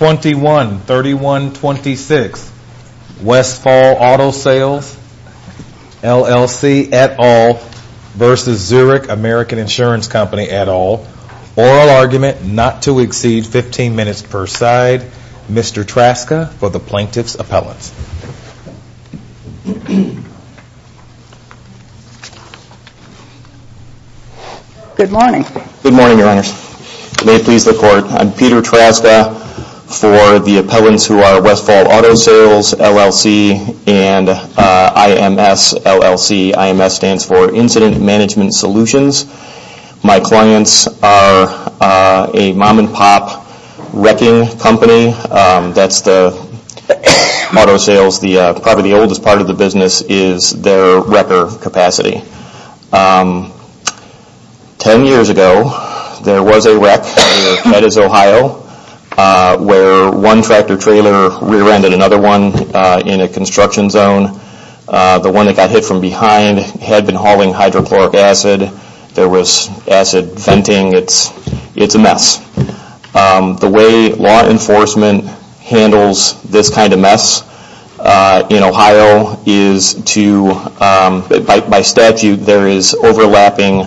21-31-26 Westfall Auto Sales LLC et al. versus Zurich American Insurance Company et al. Oral argument not to exceed 15 minutes per side. Mr. Traska for the plaintiff's appellants. Good morning. Good morning, your honors. May it please the court. I'm Peter Traska for the appellants who are Westfall Auto Sales LLC and IMS LLC. The IMS stands for Incident Management Solutions. My clients are a mom and pop wrecking company. That's the auto sales, probably the oldest part of the business is their wrecker capacity. Ten years ago, there was a wreck that is Ohio where one tractor trailer rear-ended another one in a construction zone. The one that got hit from behind had been hauling hydrochloric acid. There was acid venting. It's a mess. The way law enforcement handles this kind of mess in Ohio is to, by statute, there is overlapping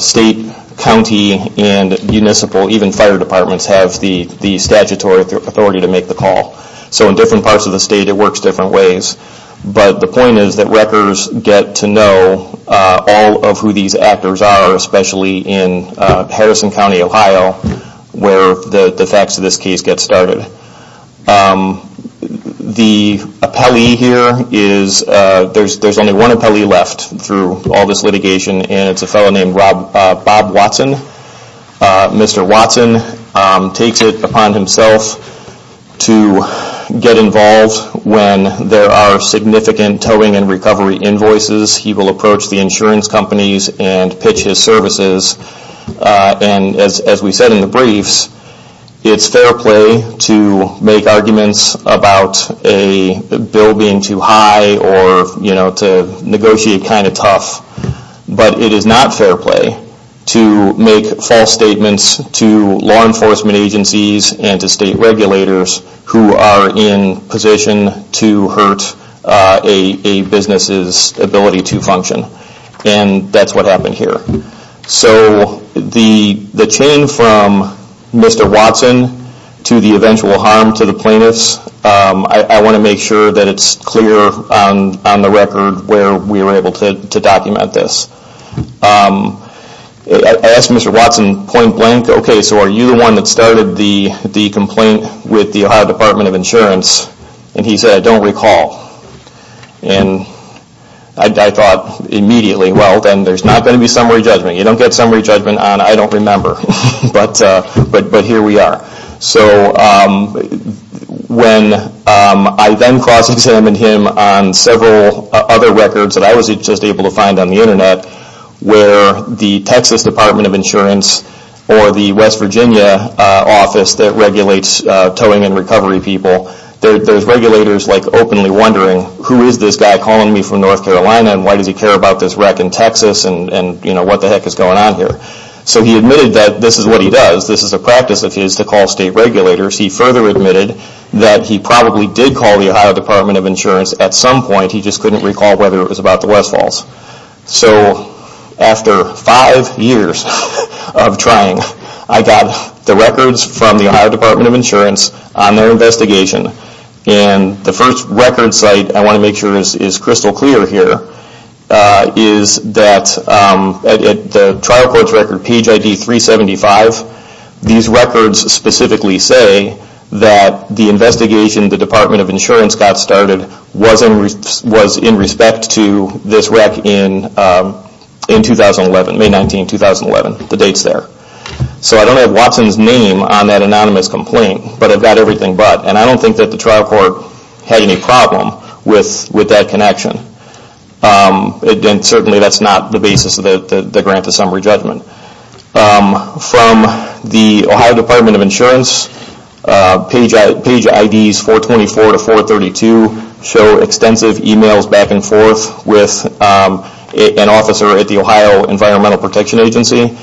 state, county, and municipal, even fire departments have the statutory authority to make the call. So in different parts of the state, it works different ways. But the point is that wreckers get to know all of who these actors are, especially in Harrison County, Ohio, where the facts of this case get started. The appellee here is, there's only one appellee left through all this litigation and it's a fellow named Bob Watson. Mr. Watson takes it upon himself to get involved when there are significant towing and recovery invoices. He will approach the insurance companies and pitch his services. As we said in the briefs, it's fair play to make arguments about a bill being too high or to negotiate kind of tough. But it is not fair play to make false statements to law enforcement agencies and to state regulators who are in position to hurt a business's ability to operate. And that's what happened here. So the chain from Mr. Watson to the eventual harm to the plaintiffs, I want to make sure that it's clear on the record where we were able to document this. I asked Mr. Watson point blank, okay, so are you the one that started the complaint with the Ohio Department of Insurance? And he said, I don't recall. And I thought immediately, well then there's not going to be summary judgment. You don't get summary judgment on I don't remember. But here we are. So when I then cross-examined him on several other records that I was just able to find on the internet where the Texas Department of Insurance or the West Virginia office that regulates towing and recovery people, there's regulators openly wondering who is this guy calling me from North Carolina and why does he care about this wreck in Texas and what the heck is going on here. So he admitted that this is what he does. This is a practice of his to call state regulators. He further admitted that he probably did call the Ohio Department of Insurance at some point, he just couldn't recall whether it was about the West Falls. So after five years of trying, I got the records from the Ohio Department of Insurance on their investigation. And the first record site I want to make sure is crystal clear here is that the trial court's record, page ID 375, these records specifically say that the investigation the Department of Insurance got started was in respect to this record. So I don't have Watson's name on that anonymous complaint, but I've got everything but. And I don't think that the trial court had any problem with that connection. And certainly that's not the basis of the grant to summary judgment. From the Ohio Department of Insurance, page IDs 424 to 432 show extensive emails back and forth with an officer at the Ohio Environmental Protection Agency.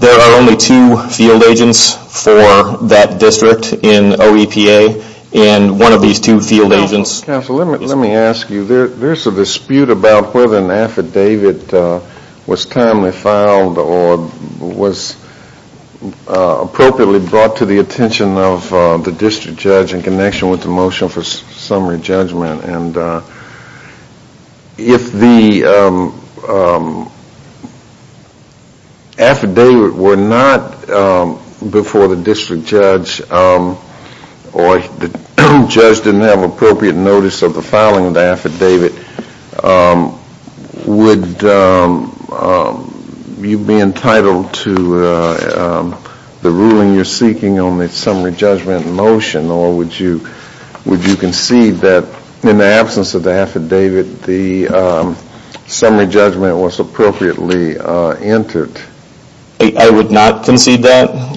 There are only two field agents for that district in OEPA and one of these two field agents Let me ask you, there's a dispute about whether an affidavit was timely filed or was appropriately brought to the attention of the district judge in connection with the motion for summary judgment. And if the affidavit were not before the district judge or the judge didn't have appropriate notice of the filing of the affidavit, would you be entitled to the ruling you're seeking on the summary judgment motion or would you concede that in the absence of the affidavit, the summary judgment was appropriately entered? I would not concede that.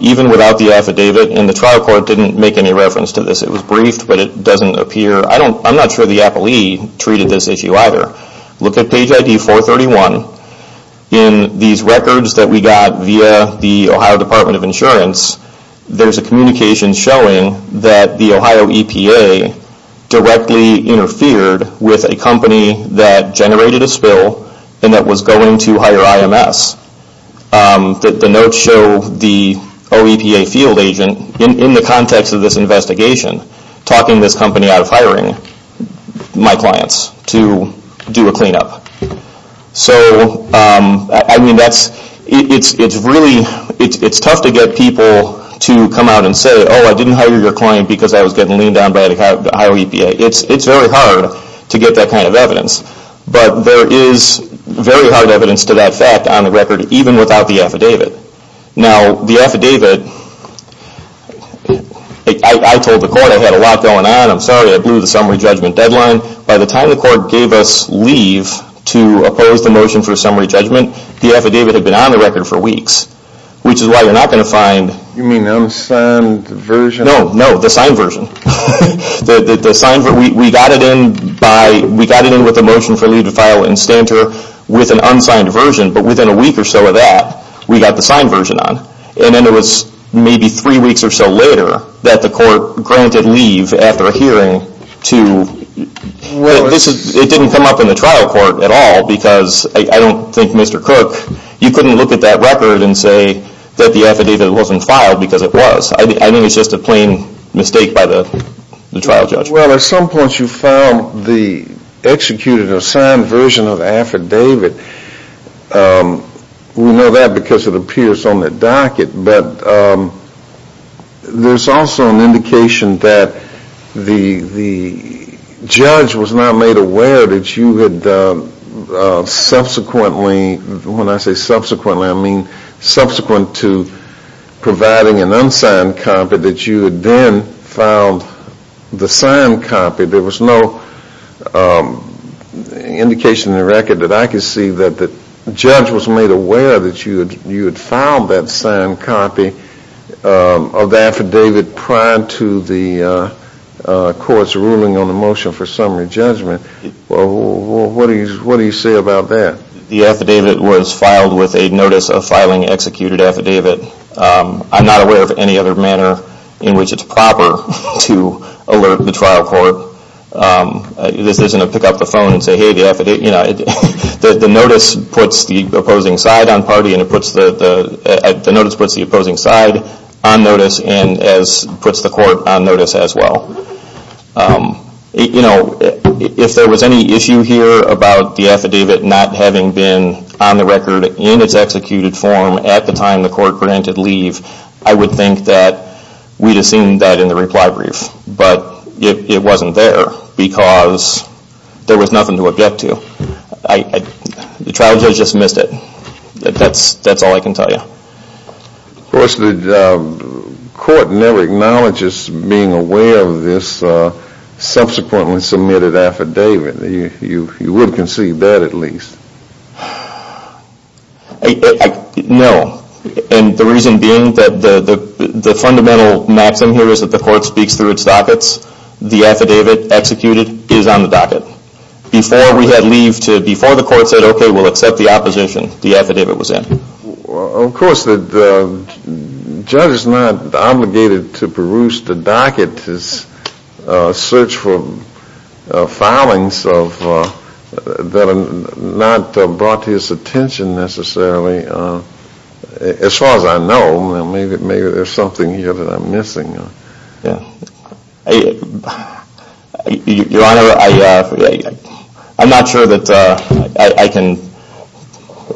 Even without the affidavit and the trial court didn't make any reference to this. It was briefed but it doesn't appear. I'm not sure the appellee treated this issue either. Look at page ID 431. In these records that we got via the Ohio Department of Insurance, there's a communication showing that the Ohio EPA directly interfered with a company that generated a spill and that was going to hire IMS. The notes show the OEPA field agent, in the context of this investigation, talking this company out of hiring my clients to do a cleanup. So it's tough to get people to come out and say, oh I didn't hire your client because I was getting leaned on by the Ohio EPA. It's very hard to get that kind of evidence. But there is very hard evidence to that fact on the record even without the affidavit. Now the affidavit, I told the court I had a lot going on, I'm sorry I blew the summary judgment deadline. By the time the court gave us leave to oppose the motion for summary judgment, the affidavit had been on the record for weeks. Which is why you're not going to find... You mean the unsigned version? No, the signed version. We got it in with the motion for leave to file in Stanter with an unsigned version, but within a week or so of that, we got the signed version on. And then it was maybe three weeks or so later that the court granted leave after a hearing to... It didn't come up in the trial court at all because I don't think Mr. Cook, you couldn't look at that record and say that the affidavit wasn't filed because it was. I think it's just a plain mistake by the trial judge. Well at some point you found the executed or signed version of the affidavit. We know that because it appears on the docket, but there's also an indication that the judge was not made aware that you had subsequently, when I say subsequently I mean subsequent to providing an unsigned copy, that you had then filed the signed copy. There was no indication in the record that I could see that the judge was made aware that you had filed that signed copy of the affidavit prior to the court's ruling on the motion for summary judgment. What do you say about that? The affidavit was filed with a notice of filing executed affidavit. I'm not aware of any other manner in which it's proper to alert the trial court. This isn't a pick up the phone and say hey, the notice puts the opposing side on notice and puts the court on notice as well. If there was any issue here about the affidavit not having been on the record in its executed form at the time the court granted leave, I would think that we'd have seen that in the reply brief, but it wasn't there because there was nothing to object to. The trial judge just missed it. That's all I can tell you. Of course the court never acknowledges being aware of this subsequently submitted affidavit. You would conceive that at least. No. And the reason being that the fundamental maxim here is that the court speaks through its dockets. The affidavit executed is on the docket. Before we had leave, before the court said okay we'll accept the opposition, the affidavit was in. Of course the judge is not obligated to peruse the docket to search for filings that are not brought to his attention necessarily. As far as I know, maybe there's something here that I'm missing. Your Honor, I'm not sure that I can,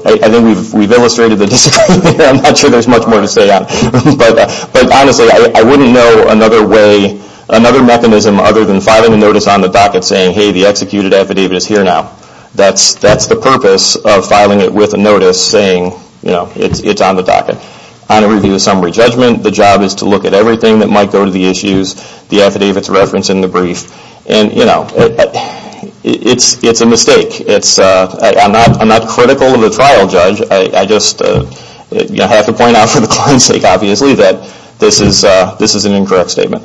I think we've illustrated the disagreement here. I'm not sure there's much more to say on it. But honestly I wouldn't know another way, another mechanism other than filing a notice on the docket saying hey the executed affidavit is here now. That's the purpose of filing it with a notice saying it's on the docket. On a review of summary judgment, the job is to look at everything that might go to the issues, the affidavit's reference in the brief. It's a mistake. I'm not critical of the trial judge. I just have to point out for the client's sake obviously that this is an incorrect statement.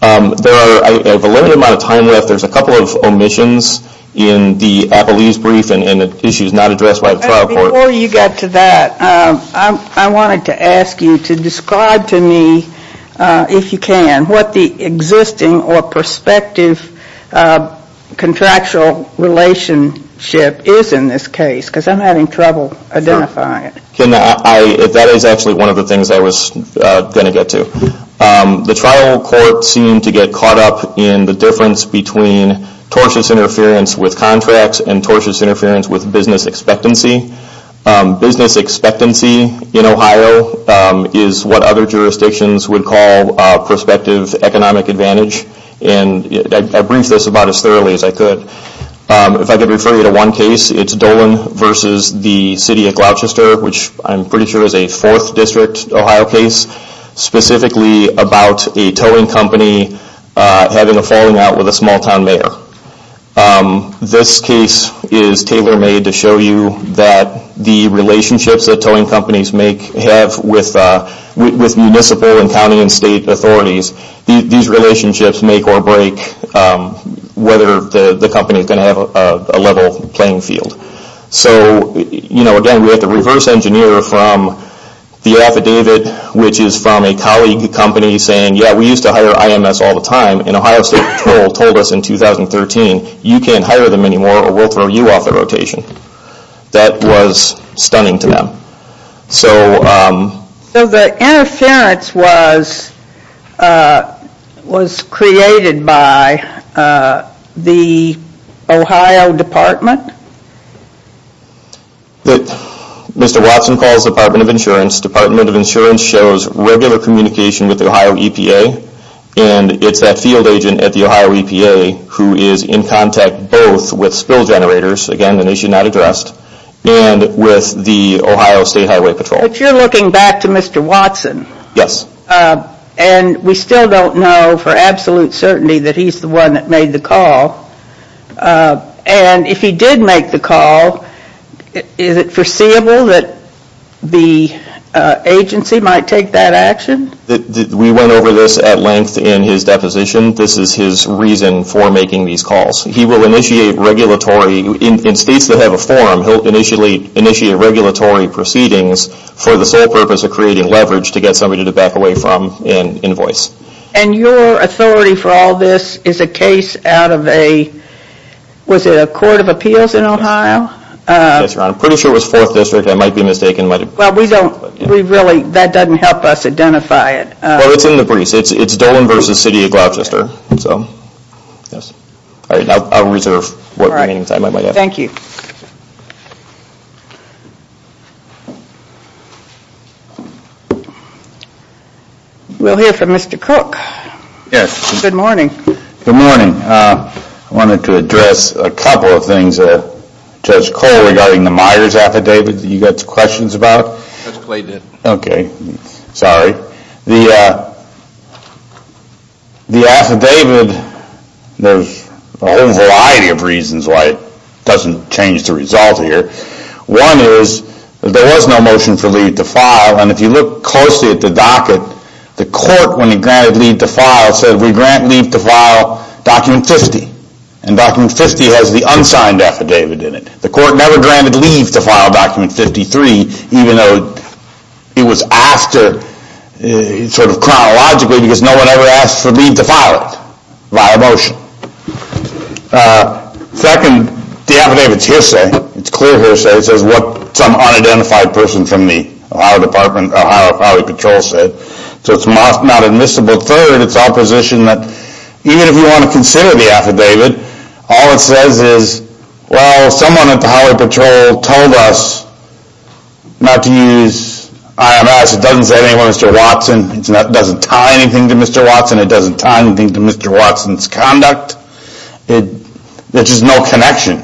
There are a limited amount of time left. There's a couple of omissions in the Apollese brief and issues not addressed by the trial court. Before you get to that, I wanted to ask you to describe to me if you can what the existing or prospective contractual relationship is in this case because I'm having trouble identifying it. That is actually one of the things I was going to get to. The trial court seemed to get caught up in the difference between tortious interference with contracts and tortious interference with business expectancy. Business expectancy in Ohio is what other jurisdictions would call prospective economic advantage. I briefed this about as thoroughly as I could. If I could refer you to one case, it's Dolan versus the city of Gloucester which I'm pretty sure is a 4th district Ohio case specifically about a towing company having a falling out with a small town mayor. This case is tailor made to show you that the relationships that towing companies have with municipal and county and state authorities, these relationships make or break whether the company is going to have a level playing field. Again, we had to reverse engineer from the affidavit which is from a colleague company saying, yeah we used to hire IMS all the time and Ohio State Patrol told us in 2013, you can't hire them anymore or we'll throw you off the rotation. That was stunning to them. So the interference was created by the Ohio Department? Mr. Watson calls the Department of Insurance. Department of Insurance shows regular communication with the Ohio EPA and it's that field agent at the Ohio EPA who is in contact both with spill generators, again the issue not addressed, and with the Ohio State Highway Patrol. If you're looking back to Mr. Watson, and we still don't know for absolute certainty that he's the one that made the call, and if he did make the call, is it foreseeable that the agency might take that action? We went over this at length in his deposition. This is his reason for making these calls. He will initiate regulatory, in states that have a form, he'll initially initiate regulatory proceedings for the sole purpose of creating leverage to get somebody to back away from an invoice. And your authority for all this is a case out of a, was it a court of appeals in Ohio? Yes, Your Honor. I'm pretty sure it was 4th District, I might be mistaken. That doesn't help us identify it. Well, it's in the briefs. It's Dolan v. City of Gloucester. I'll reserve what we have. Thank you. We'll hear from Mr. Cook. Yes. Good morning. Good morning. I wanted to address a couple of things. Judge Cole, regarding the Myers affidavit that you got questions about? Judge Clay did. Okay. Sorry. The affidavit, there's a whole variety of reasons why it doesn't change the result here. One is, there was no motion for leave to file, and if you look closely at the docket, the court, when it granted leave to file, said we grant leave to file document 50. And document 50 has the unsigned affidavit in it. The court never granted leave to file document 53, even though it was asked to, sort of chronologically, because no one ever asked for leave to file it, via motion. Second, the affidavit is hearsay. It's clear hearsay. It says what some unidentified person from the Ohio Highway Patrol said. So it's not admissible. Third, it's opposition that, even if you want to consider the affidavit, all it says is, well, someone at the Highway Patrol told us not to use IMS. It doesn't say anything to Mr. Watson. It doesn't tie anything to Mr. Watson. It doesn't tie anything to Mr. Watson's conduct. There's just no connection.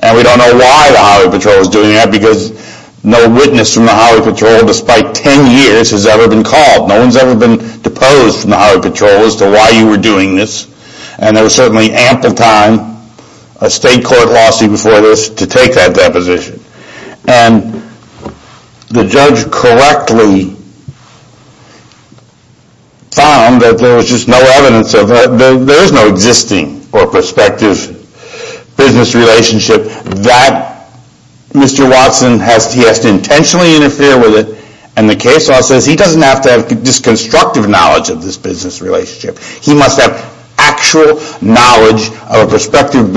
And we don't know why the Highway Patrol was doing that, because no witness from the Highway Patrol, despite 10 years, has ever been called. No one's ever been deposed from the Highway Patrol as to why you were doing this. And there was certainly ample time, a state court lawsuit before this, to take that deposition. And the judge correctly found that there was just no evidence of that. There is no existing or prospective business relationship that Mr. Watson has to intentionally interfere with it. And the case law says he doesn't have to have this constructive knowledge of this business relationship. He must have actual knowledge of a prospective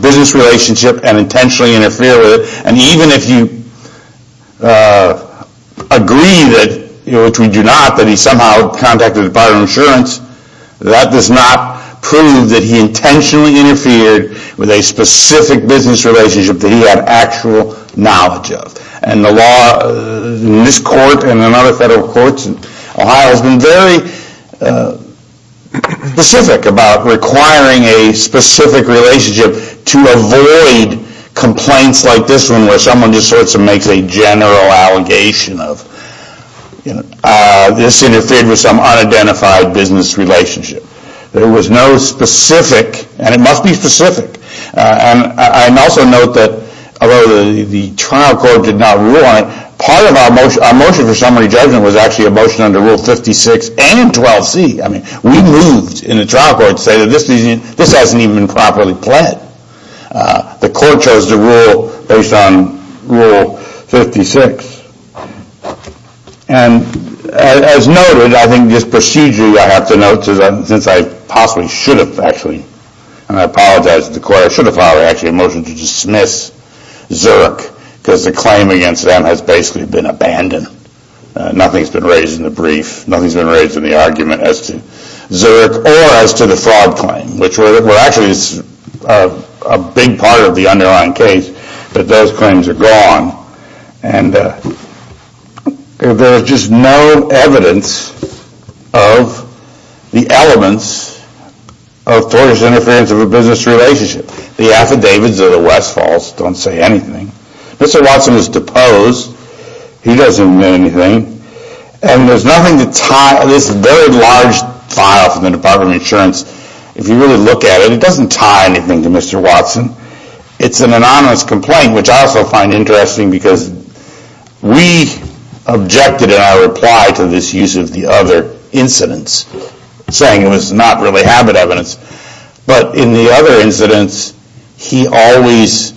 business relationship and intentionally interfere with it. And even if you agree, which we do not, that he somehow contacted the Department of Insurance, that does not prove that he intentionally interfered with a specific business relationship that he had actual knowledge of. And the law in this court and in other federal courts in Ohio has been very specific about requiring a specific relationship to avoid complaints like this one where someone just sort of makes a general allegation of this interfered with some unidentified business relationship. There was no specific, and it must be specific. And I also note that although the trial court did not rule on it, part of our motion for summary judgment was actually a motion under Rule 56 and 12C. I mean, we moved in the trial court to say that this hasn't even been properly played. The court chose the rule based on Rule 56. And as noted, I think this procedure, I have to note, since I possibly should have actually, and I apologize to the court, I should have actually filed a motion to dismiss Zerk because the claim against them has basically been abandoned. Nothing's been raised in the brief. Nothing's been raised in the argument as to Zerk or as to the fraud claim, which were actually a big part of the underlying case. But those claims are gone. And there is just no evidence of the elements of tortious interference of a business relationship. The affidavits of the West Falls don't say anything. Mr. Watson was deposed. He doesn't admit anything. And there's nothing to tie this very large file from the Department of Insurance. If you really look at it, it doesn't tie anything to Mr. Watson. It's an anonymous complaint, which I also find interesting because we objected in our reply to this use of the other incidents, saying it was not really habit evidence. But in the other incidents, he always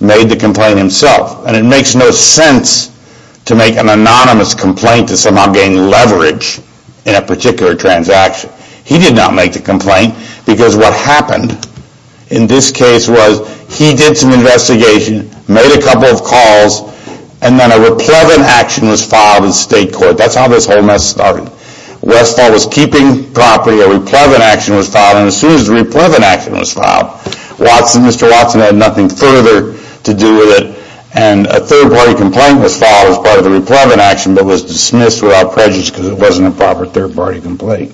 made the complaint himself. And it makes no sense to make an anonymous complaint to somehow gain leverage in a particular transaction. He did not make the complaint because what happened in this case was he did some investigation, made a couple of calls, and then a replevant action was filed in state court. That's how this whole mess started. West Falls was keeping property. A replevant action was filed. And as soon as the replevant action was filed, Mr. Watson had nothing further to do with it. And a third-party complaint was filed as part of the replevant action, but was dismissed without prejudice because it wasn't a proper third-party complaint.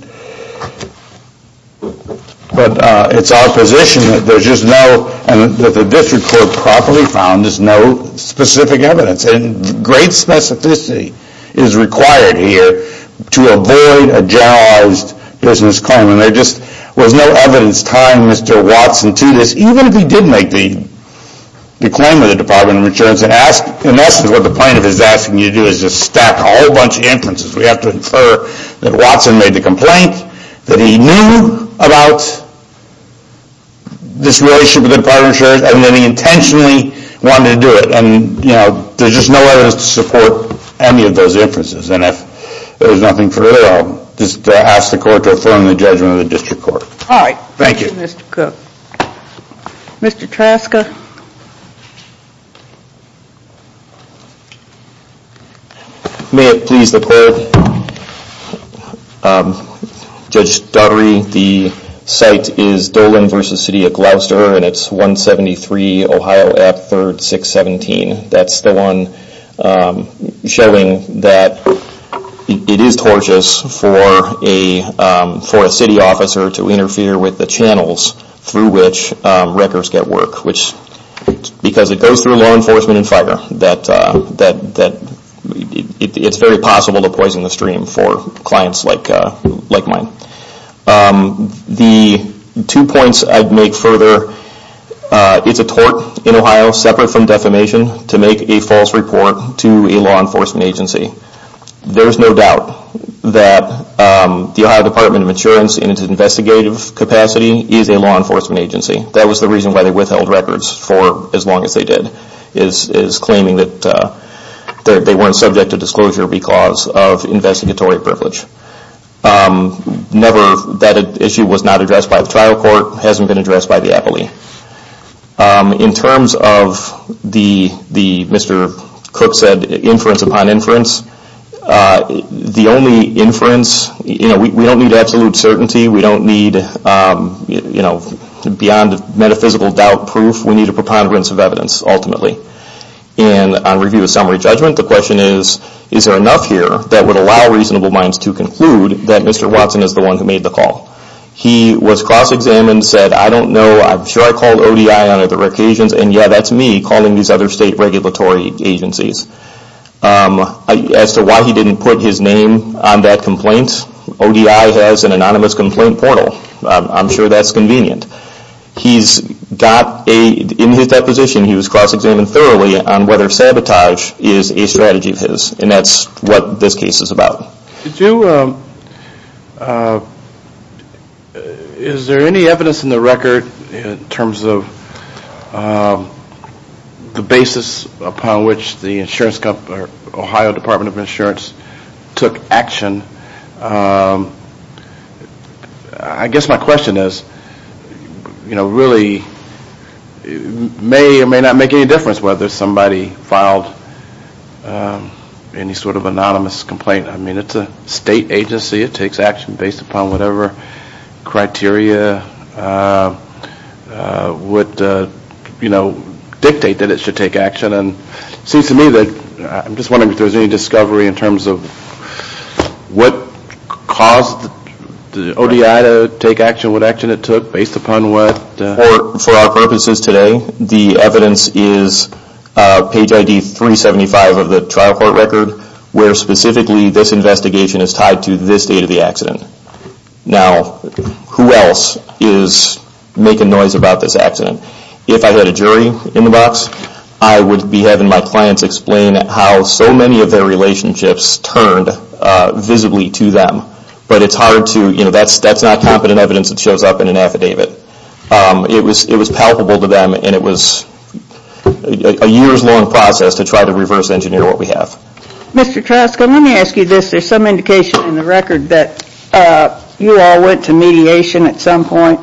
But it's our position that there's just no, and that the district court properly found there's no specific evidence. And great specificity is required here to avoid a generalized business claim. And there just was no evidence tying Mr. Watson to this, even if he did make the claim with the Department of Insurance. In essence, what the plaintiff is asking you to do is just stack a whole bunch of inferences. We have to infer that Watson made the complaint, that he knew about this relationship with the Department of Insurance, and that he intentionally wanted to do it. And, you know, there's just no evidence to support any of those inferences. And if there's nothing further, I'll just ask the court to affirm the judgment of the district court. All right. Thank you. Thank you, Mr. Cook. Mr. Traska. May it please the court, Judge Daugherty, the site is Dolan v. City of Gloucester, and it's 173 Ohio Ave. 3rd, 617. That's the one showing that it is tortious for a city officer to interfere with the channels through which wreckers get work. Because it goes through law enforcement and fire. It's very possible to poison the stream for clients like mine. The two points I'd make further, it's a tort in Ohio, separate from defamation, to make a false report to a law enforcement agency. There's no doubt that the Ohio Department of Insurance, in its investigative capacity, is a law enforcement agency. That was the reason why they withheld records for as long as they did, is claiming that they weren't subject to disclosure because of investigatory privilege. Never, that issue was not addressed by the trial court, hasn't been addressed by the appellee. In terms of the, Mr. Cook said, inference upon inference, the only inference, we don't need absolute certainty, we don't need beyond metaphysical doubt proof, we need a preponderance of evidence, ultimately. On review of summary judgment, the question is, is there enough here that would allow reasonable minds to conclude that Mr. Watson is the one who made the call? He was cross-examined, said, I don't know, I'm sure I called ODI on other occasions, and yeah, that's me calling these other state regulatory agencies. As to why he didn't put his name on that complaint, ODI has an anonymous complaint portal. I'm sure that's convenient. He's got a, in his deposition, he was cross-examined thoroughly on whether sabotage is a strategy of his, and that's what this case is about. Did you, is there any evidence in the record in terms of the basis upon which the insurance company, or Ohio Department of Insurance, took action? I guess my question is, you know, really, it may or may not make any difference whether somebody filed any sort of anonymous complaint. I mean, it's a state agency, it takes action based upon whatever criteria would, you know, dictate that it should take action. And it seems to me that, I'm just wondering if there's any discovery in terms of what caused the ODI to take action, what action it took based upon what? For our purposes today, the evidence is page ID 375 of the trial court record, where specifically this investigation is tied to this date of the accident. Now, who else is making noise about this accident? If I had a jury in the box, I would be having my clients explain how so many of their relationships turned visibly to them. But it's hard to, you know, that's not competent evidence that shows up in an affidavit. It was palpable to them, and it was a years-long process to try to reverse engineer what we have. Mr. Troska, let me ask you this. There's some indication in the record that you all went to mediation at some point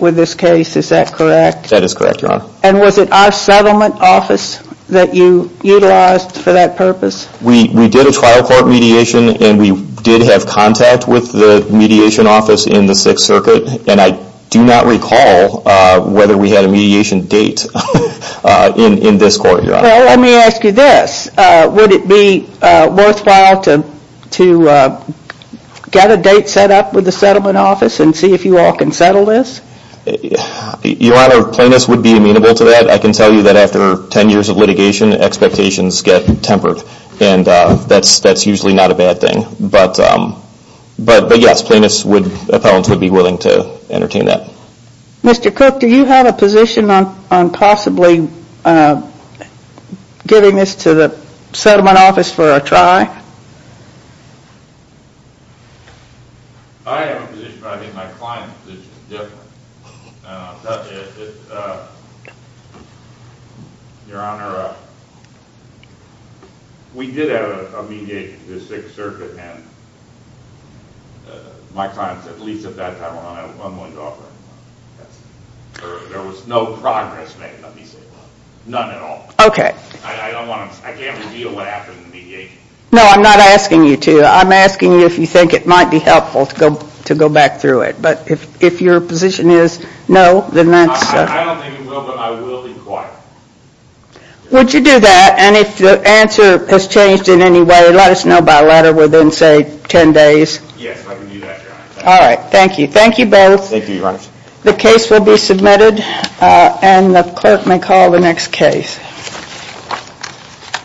with this case. Is that correct? That is correct, Your Honor. And was it our settlement office that you utilized for that purpose? We did a trial court mediation, and we did have contact with the mediation office in the Sixth Circuit. And I do not recall whether we had a mediation date in this court, Your Honor. Well, let me ask you this. Would it be worthwhile to get a date set up with the settlement office and see if you all can settle this? Your Honor, plaintiffs would be amenable to that. I can tell you that after 10 years of litigation, expectations get tempered. And that's usually not a bad thing. But yes, plaintiffs, appellants would be willing to entertain that. Mr. Cook, do you have a position on possibly giving this to the settlement office for a try? I have a position, but I think my client's position is different. Your Honor, we did have a mediation in the Sixth Circuit, and my client said, at least at that time, I'm willing to offer it. There was no progress made, let me say. None at all. I can't reveal what happened in the mediation. No, I'm not asking you to. I'm asking you if you think it might be helpful to go back through it. But if your position is no, then that's... I don't think it will, but I will inquire. Would you do that? And if the answer has changed in any way, let us know by letter within, say, 10 days. Yes, I can do that, Your Honor. All right, thank you. Thank you both. Thank you, Your Honor. The case will be submitted, and the clerk may call the next case.